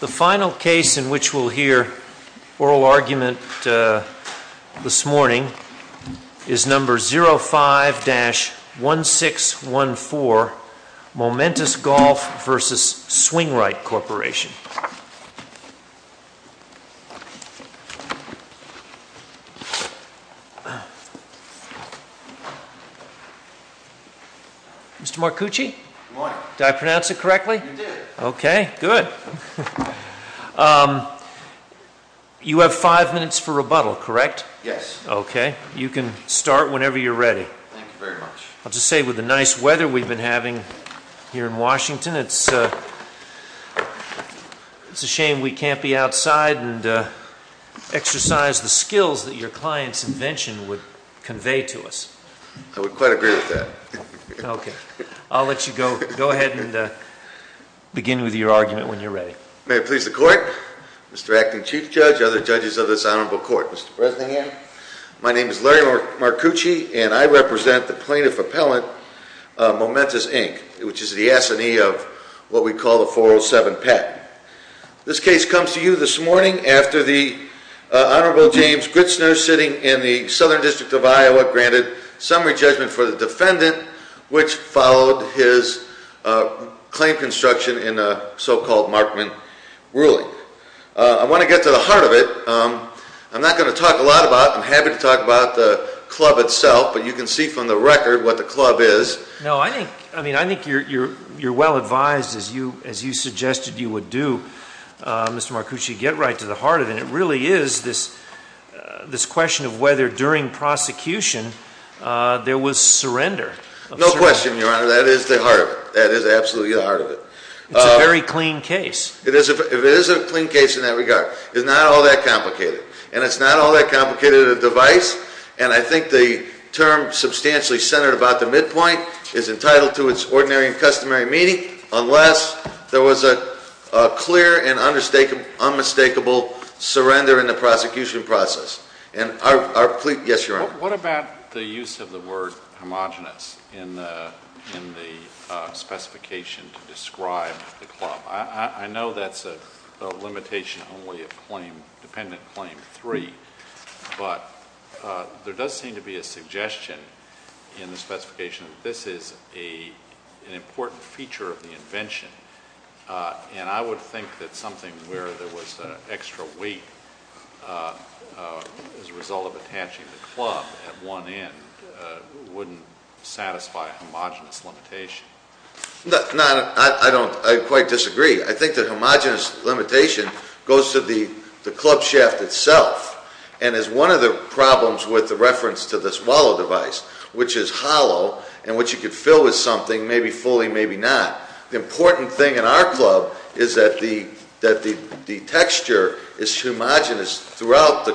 The final case in which we'll hear oral argument this morning is number 05-1614 Momentus Golf v. Swingrite Corporation. Mr. Marcucci? Good morning. Did I pronounce it correctly? You did. Okay, good. You have five minutes for rebuttal, correct? Yes. Okay, you can start whenever you're ready. Thank you very much. I'll just say with the nice weather we've been having here in Washington, it's a shame we can't be outside and exercise the skills that your client's invention would convey to us. I would quite agree with that. Okay, I'll let you go ahead and begin with your argument when you're ready. May it please the Court, Mr. Acting Chief Judge, other judges of this honorable court, Mr. President, my name is Larry Marcucci and I represent the plaintiff appellant, Momentus, Inc., which is the assignee of what we call the 407 patent. This case comes to you this morning after the Honorable James Gritzner sitting in the Southern District of Iowa granted summary judgment for the defendant, which followed his claim construction in a so-called Markman ruling. I want to get to the heart of it. I'm not going to talk a lot about it. I'm happy to talk about the club itself, but you can see from the record what the club is. No, I think you're well advised, as you suggested you would do, Mr. Marcucci, to get right to the heart of it, and it really is this question of whether during prosecution there was surrender. No question, Your Honor, that is the heart of it. That is absolutely the heart of it. It's a very clean case. It is a clean case in that regard. It's not all that complicated, and it's not all that complicated of a device, and I think the term substantially centered about the midpoint is entitled to its ordinary and customary meaning unless there was a clear and unmistakable surrender in the prosecution process. Yes, Your Honor. What about the use of the word homogenous in the specification to describe the club? I know that's a limitation only of dependent claim three, but there does seem to be a suggestion in the specification that this is an important feature of the invention, and I would think that something where there was extra weight as a result of attaching the club at one end wouldn't satisfy a homogenous limitation. No, I quite disagree. I think the homogenous limitation goes to the club shaft itself and is one of the problems with the reference to this wallow device, which is hollow and which you could fill with something, maybe fully, maybe not. The important thing in our club is that the texture is homogenous throughout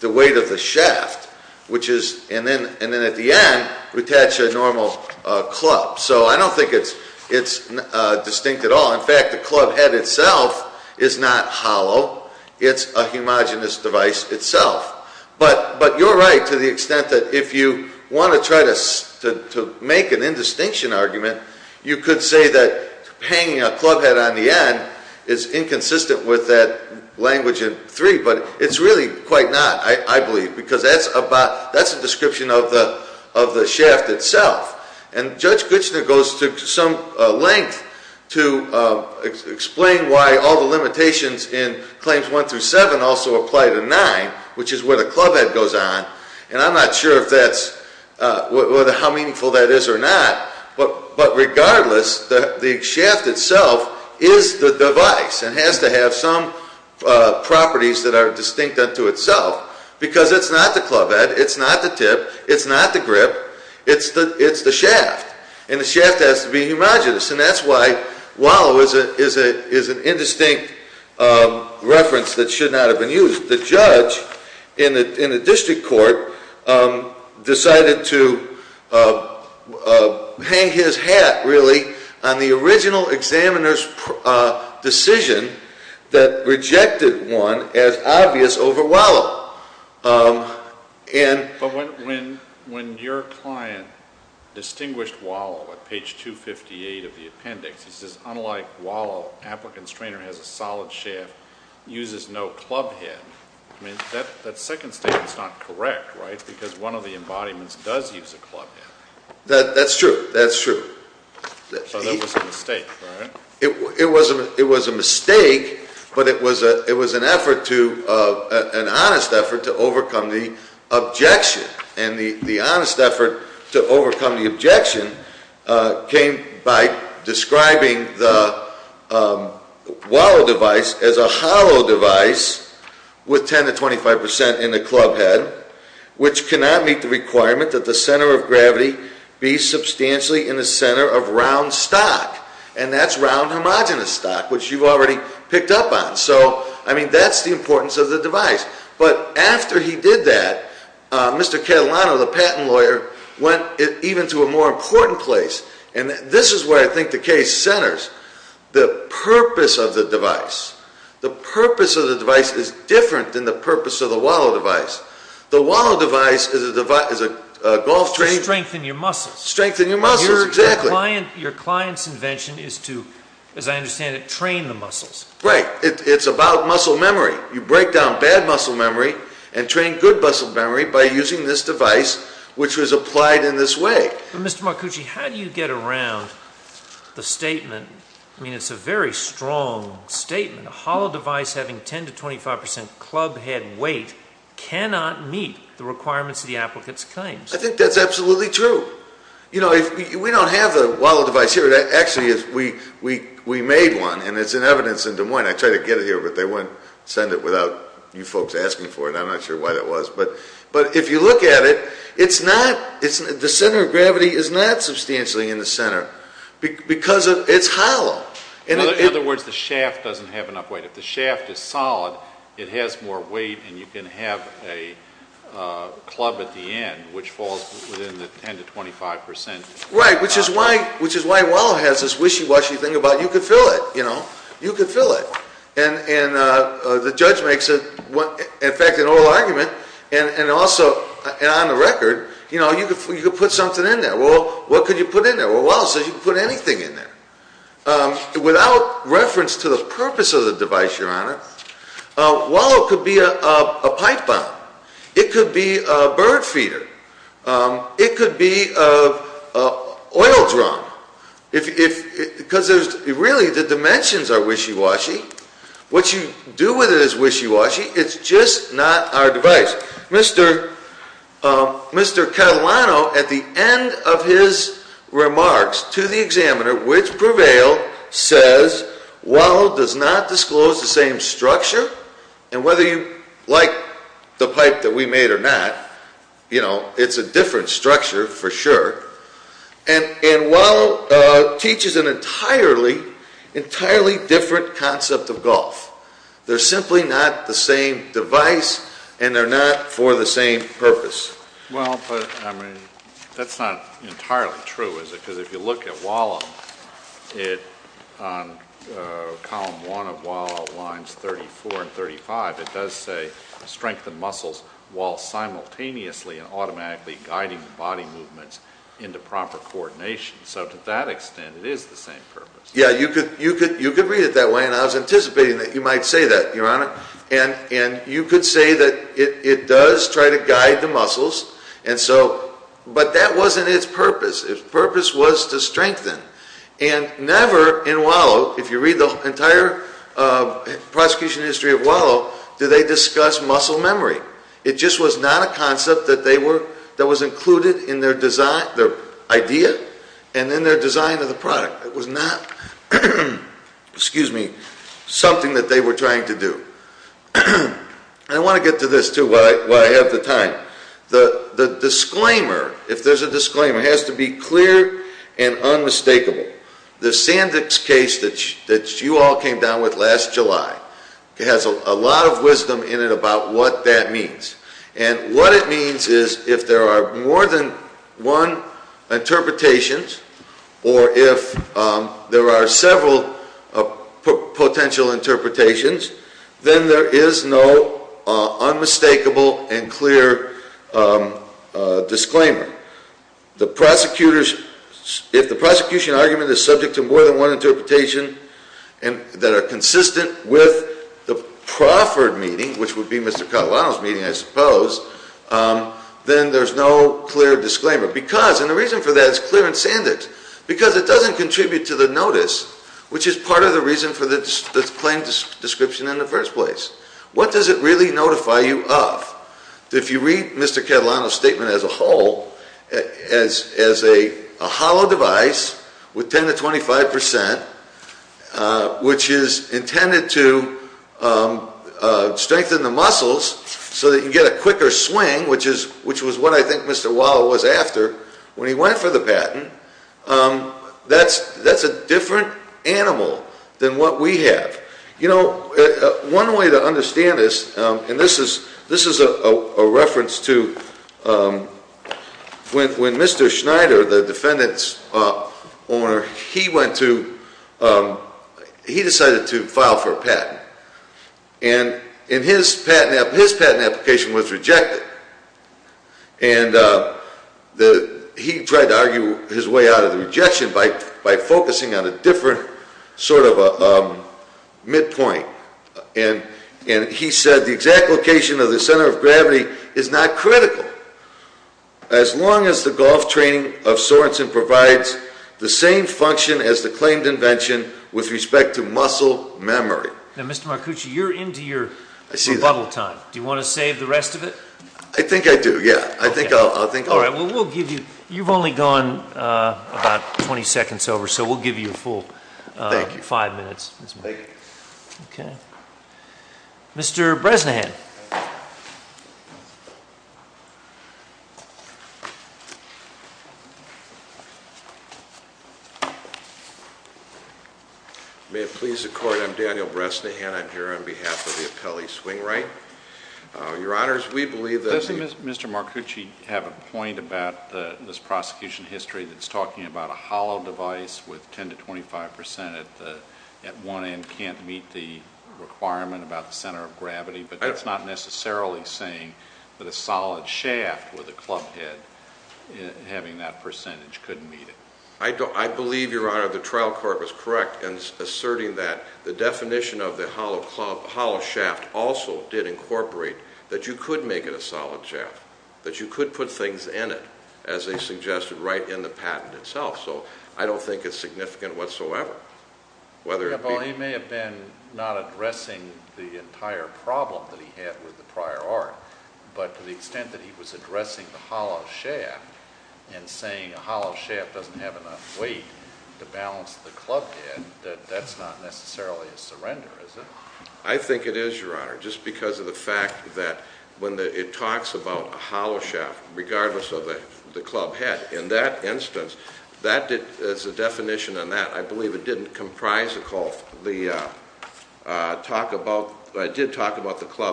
the weight of the shaft, and then at the end, we attach a normal club. So I don't think it's distinct at all. In fact, the club head itself is not hollow. It's a homogenous device itself. But you're right to the extent that if you want to try to make an indistinction argument, you could say that hanging a club head on the end is inconsistent with that language in three. But it's really quite not, I believe, because that's a description of the shaft itself. And Judge Kuchner goes to some length to explain why all the limitations in Claims 1 through 7 also apply to 9, which is where the club head goes on. And I'm not sure how meaningful that is or not. But regardless, the shaft itself is the device and has to have some properties that are distinct unto itself because it's not the club head. It's not the tip. It's not the grip. It's the shaft. And the shaft has to be homogenous. And that's why wallow is an indistinct reference that should not have been used. The judge in the district court decided to hang his hat, really, on the original examiner's decision that rejected one as obvious over wallow. And- But when your client distinguished wallow at page 258 of the appendix, he says, unlike wallow, applicant's trainer has a solid shaft, uses no club head. I mean, that second statement's not correct, right? Because one of the embodiments does use a club head. That's true. That's true. So that was a mistake, right? It was a mistake, but it was an effort to, an honest effort to overcome the objection. And the honest effort to overcome the objection came by describing the wallow device as a hollow device with 10 to 25% in the club head, which cannot meet the requirement that the center of gravity be substantially in the center of round stock. And that's round homogenous stock, which you've already picked up on. So, I mean, that's the importance of the device. But after he did that, Mr. Catalano, the patent lawyer, went even to a more important place. And this is where I think the case centers. The purpose of the device, the purpose of the device is different than the purpose of the wallow device. The wallow device is a golf- To strengthen your muscles. Strengthen your muscles, exactly. Your client's invention is to, as I understand it, train the muscles. Right. It's about muscle memory. You break down bad muscle memory and train good muscle memory by using this device, which was applied in this way. Mr. Marcucci, how do you get around the statement, I mean, it's a very strong statement, a hollow device having 10 to 25% club head weight cannot meet the requirements of the applicant's claims. I think that's absolutely true. You know, we don't have the wallow device here. Actually, we made one, and it's in evidence in Des Moines. I tried to get it here, but they wouldn't send it without you folks asking for it. I'm not sure why that was. But if you look at it, the center of gravity is not substantially in the center because it's hollow. In other words, the shaft doesn't have enough weight. If the shaft is solid, it has more weight, and you can have a club at the end, which falls within the 10 to 25%. Right, which is why wallow has this wishy-washy thing about you can fill it, you know. You can fill it. And the judge makes, in fact, an oral argument, and also on the record, you know, you can put something in there. Well, what could you put in there? Well, wallow says you can put anything in there. Without reference to the purpose of the device, Your Honor, wallow could be a pipe bomb. It could be a bird feeder. It could be an oil drum. Because really, the dimensions are wishy-washy. What you do with it is wishy-washy. It's just not our device. Mr. Catalano, at the end of his remarks to the examiner, which prevailed, says wallow does not disclose the same structure. And whether you like the pipe that we made or not, you know, it's a different structure for sure. And wallow teaches an entirely, entirely different concept of golf. They're simply not the same device, and they're not for the same purpose. Well, but, I mean, that's not entirely true, is it? Because if you look at wallow, it, on column one of wallow, lines 34 and 35, it does say strengthen muscles while simultaneously and automatically guiding body movements into proper coordination. So to that extent, it is the same purpose. Yeah, you could read it that way, and I was anticipating that you might say that, Your Honor. And you could say that it does try to guide the muscles, and so, but that wasn't its purpose. Its purpose was to strengthen. And never in wallow, if you read the entire prosecution history of wallow, do they discuss muscle memory. It just was not a concept that they were, that was included in their design, their idea, and in their design of the product. It was not, excuse me, something that they were trying to do. And I want to get to this, too, while I have the time. The disclaimer, if there's a disclaimer, has to be clear and unmistakable. The Sandvik's case that you all came down with last July has a lot of wisdom in it about what that means. And what it means is, if there are more than one interpretations, or if there are several potential interpretations, then there is no unmistakable and clear disclaimer. The prosecutors, if the prosecution argument is subject to more than one interpretation, that are consistent with the Crawford meeting, which would be Mr. Catalano's meeting, I suppose, then there's no clear disclaimer. Because, and the reason for that is clear in Sandvik's, because it doesn't contribute to the notice, which is part of the reason for the plain description in the first place. What does it really notify you of? If you read Mr. Catalano's statement as a whole, as a hollow device with 10 to 25%, which is intended to strengthen the muscles so that you get a quicker swing, which was what I think Mr. Wall was after when he went for the patent, that's a different animal than what we have. You know, one way to understand this, and this is a reference to when Mr. Schneider, the defendant's owner, he decided to file for a patent. And his patent application was rejected. And he tried to argue his way out of the rejection by focusing on a different sort of a midpoint. And he said the exact location of the center of gravity is not critical, as long as the golf training of Sorenson provides the same function as the claimed invention with respect to muscle memory. Now, Mr. Marcucci, you're into your rebuttal time. Do you want to save the rest of it? I think I do, yeah. All right, well, we'll give you, you've only gone about 20 seconds over, so we'll give you a full five minutes. Thank you. Mr. Bresnahan. May it please the Court, I'm Daniel Bresnahan. I'm here on behalf of the Appellee Swing Right. Your Honors, we believe that the — Doesn't Mr. Marcucci have a point about this prosecution history that's talking about a hollow device with 10 to 25 percent at one end, can't meet the requirement about the center of gravity? But that's not true. He's not necessarily saying that a solid shaft with a club head having that percentage couldn't meet it. I believe, Your Honor, the trial court was correct in asserting that the definition of the hollow shaft also did incorporate that you could make it a solid shaft, that you could put things in it, as they suggested, right in the patent itself. So I don't think it's significant whatsoever. Well, he may have been not addressing the entire problem that he had with the prior art, but to the extent that he was addressing the hollow shaft and saying a hollow shaft doesn't have enough weight to balance the club head, that that's not necessarily a surrender, is it? I think it is, Your Honor, just because of the fact that when it talks about a hollow shaft, regardless of the club head, in that instance, as a definition on that, I believe it didn't comprise the club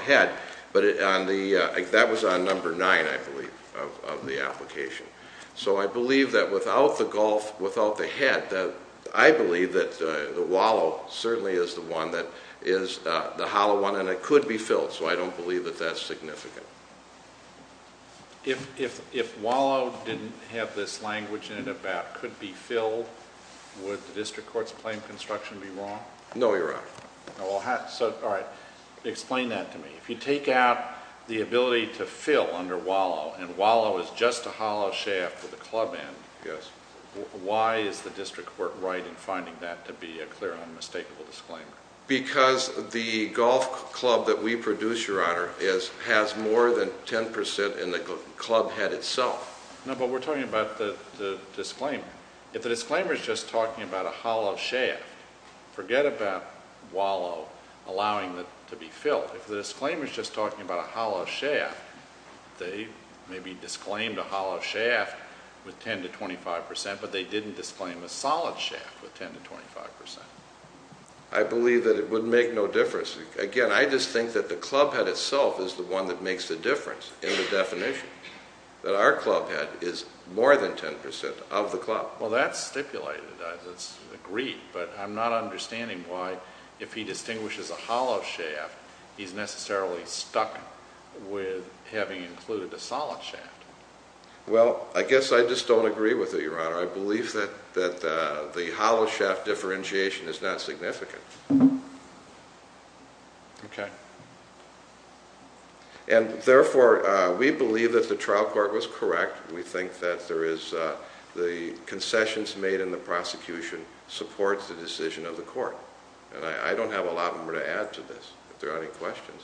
head, but that was on number nine, I believe, of the application. So I believe that without the golf, without the head, I believe that the wallow certainly is the one that is the hollow one, and it could be filled, so I don't believe that that's significant. If wallow didn't have this language in it about could be filled, would the district court's claim construction be wrong? No, Your Honor. All right, explain that to me. If you take out the ability to fill under wallow, and wallow is just a hollow shaft with a club end, why is the district court right in finding that to be a clear, unmistakable disclaimer? Because the golf club that we produce, Your Honor, has more than 10% in the club head itself. No, but we're talking about the disclaimer. If the disclaimer's just talking about a hollow shaft, forget about wallow allowing it to be filled. If the disclaimer's just talking about a hollow shaft, they maybe disclaimed a hollow shaft with 10% to 25%, but they didn't disclaim a solid shaft with 10% to 25%. I believe that it would make no difference. Again, I just think that the club head itself is the one that makes the difference in the definition, that our club head is more than 10% of the club. Well, that's stipulated. That's agreed, but I'm not understanding why, if he distinguishes a hollow shaft, he's necessarily stuck with having included a solid shaft. Well, I guess I just don't agree with it, Your Honor. I believe that the hollow shaft differentiation is not significant. Okay. And therefore, we believe that the trial court was correct. We think that the concessions made in the prosecution supports the decision of the court. And I don't have a lot more to add to this, if there are any questions.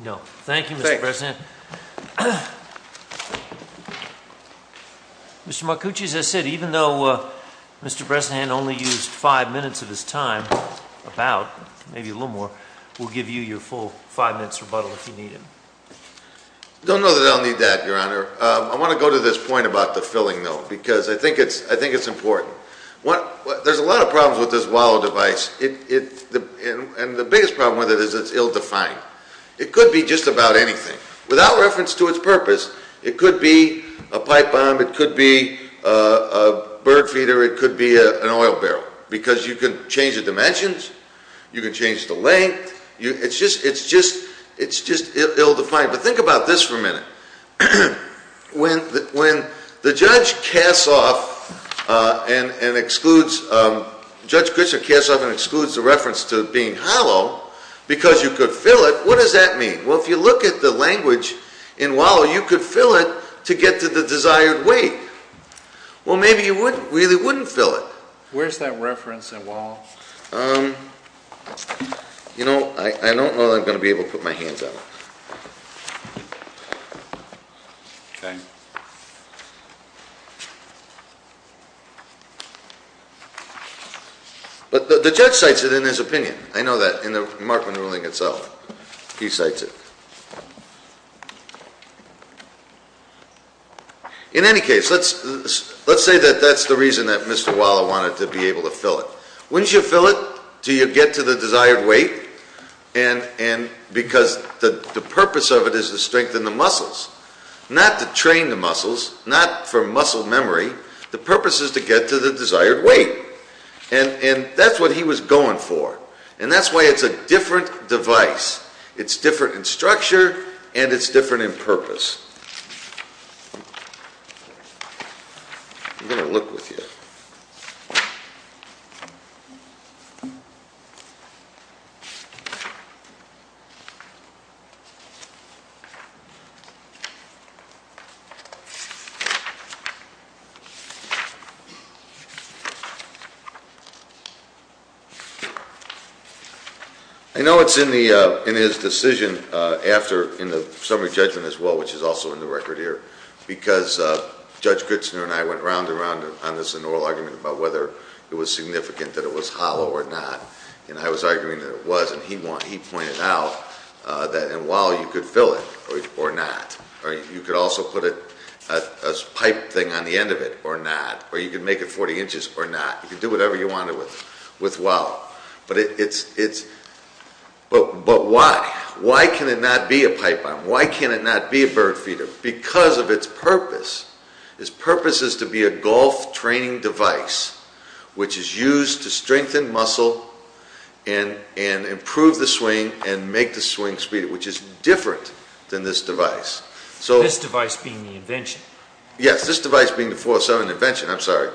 No. Thank you, Mr. Bresnahan. Thanks. Mr. Marcucci, as I said, even though Mr. Bresnahan only used five minutes of his time, about, maybe a little more, we'll give you your full five minutes rebuttal if you need it. Don't know that I'll need that, Your Honor. I want to go to this point about the filling, though, because I think it's important. There's a lot of problems with this wallow device. And the biggest problem with it is it's ill-defined. It could be just about anything. Without reference to its purpose, it could be a pipe bomb. It could be a bird feeder. It could be an oil barrel because you can change the dimensions. You can change the length. But think about this for a minute. When the judge casts off and excludes, Judge Grisham casts off and excludes the reference to it being hollow because you could fill it, what does that mean? Well, if you look at the language in wallow, you could fill it to get to the desired weight. Well, maybe you really wouldn't fill it. Where's that reference in wallow? You know, I don't know that I'm going to be able to put my hands on it. Okay. But the judge cites it in his opinion. I know that in the remarkable ruling itself. He cites it. In any case, let's say that that's the reason that Mr. Wallow wanted to be able to fill it. Wouldn't you fill it till you get to the desired weight? Because the purpose of it is to strengthen the muscles. Not to train the muscles. Not for muscle memory. The purpose is to get to the desired weight. And that's what he was going for. And that's why it's a different device. It's different in structure and it's different in purpose. I'm going to look with you. Okay. I know it's in his decision in the summary judgment as well, which is also in the record here. Because Judge Gritzner and I went round and round on this in oral argument about whether it was significant that it was hollow or not. And I was arguing that it was. And he pointed out that in Wallow you could fill it or not. Or you could also put a pipe thing on the end of it or not. Or you could make it 40 inches or not. You could do whatever you wanted with Wallow. But why? Why can it not be a pipe bomb? Why can it not be a bird feeder? Because of its purpose. Its purpose is to be a golf training device which is used to strengthen muscle and improve the swing and make the swing speed, which is different than this device. This device being the invention. Yes, this device being the 407 invention. I'm sorry.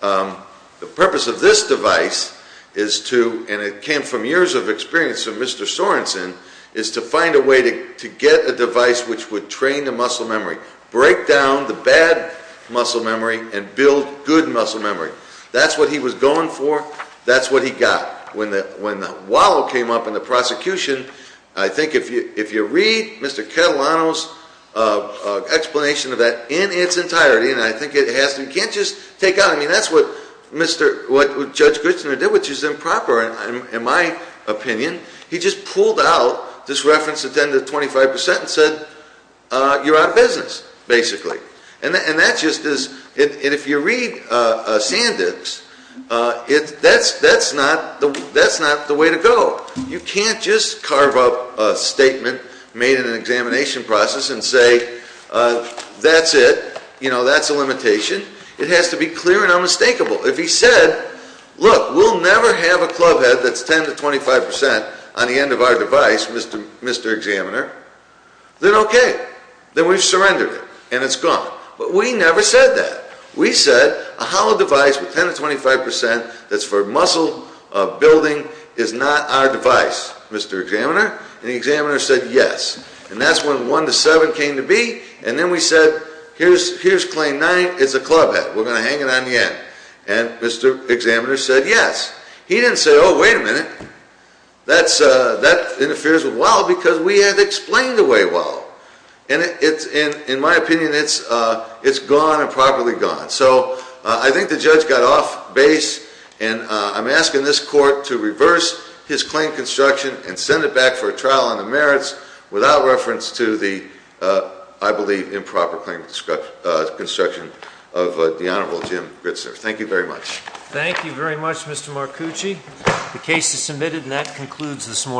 The purpose of this device is to, and it came from years of experience of Mr. Sorenson, is to find a way to get a device which would train the muscle memory. Break down the bad muscle memory and build good muscle memory. That's what he was going for. That's what he got. When Wallow came up in the prosecution, I think if you read Mr. Catalano's explanation of that in its entirety, and I think it has to, you can't just take out, I mean, that's what Judge Grichner did, which is improper in my opinion. He just pulled out this reference to 10 to 25% and said, you're out of business, basically. And that just is, and if you read Sandick's, that's not the way to go. You can't just carve up a statement made in an examination process and say, that's it. You know, that's a limitation. It has to be clear and unmistakable. If he said, look, we'll never have a club head that's 10 to 25% on the end of our device, Mr. Examiner, then okay. Then we've surrendered it, and it's gone. But we never said that. We said, a hollow device with 10 to 25% that's for muscle building is not our device, Mr. Examiner. And the examiner said, yes. And that's when 1 to 7 came to be, and then we said, here's claim 9, it's a club head. We're going to hang it on the end. And Mr. Examiner said, yes. He didn't say, oh, wait a minute. That interferes with WALL-E because we had explained the way WALL-E. And in my opinion, it's gone and properly gone. So I think the judge got off base, and I'm asking this court to reverse his claim construction and send it back for a trial on the merits without reference to the, I believe, improper claim construction of the Honorable Jim Gritzner. Thank you very much. Thank you very much, Mr. Marcucci. The case is submitted, and that concludes this morning.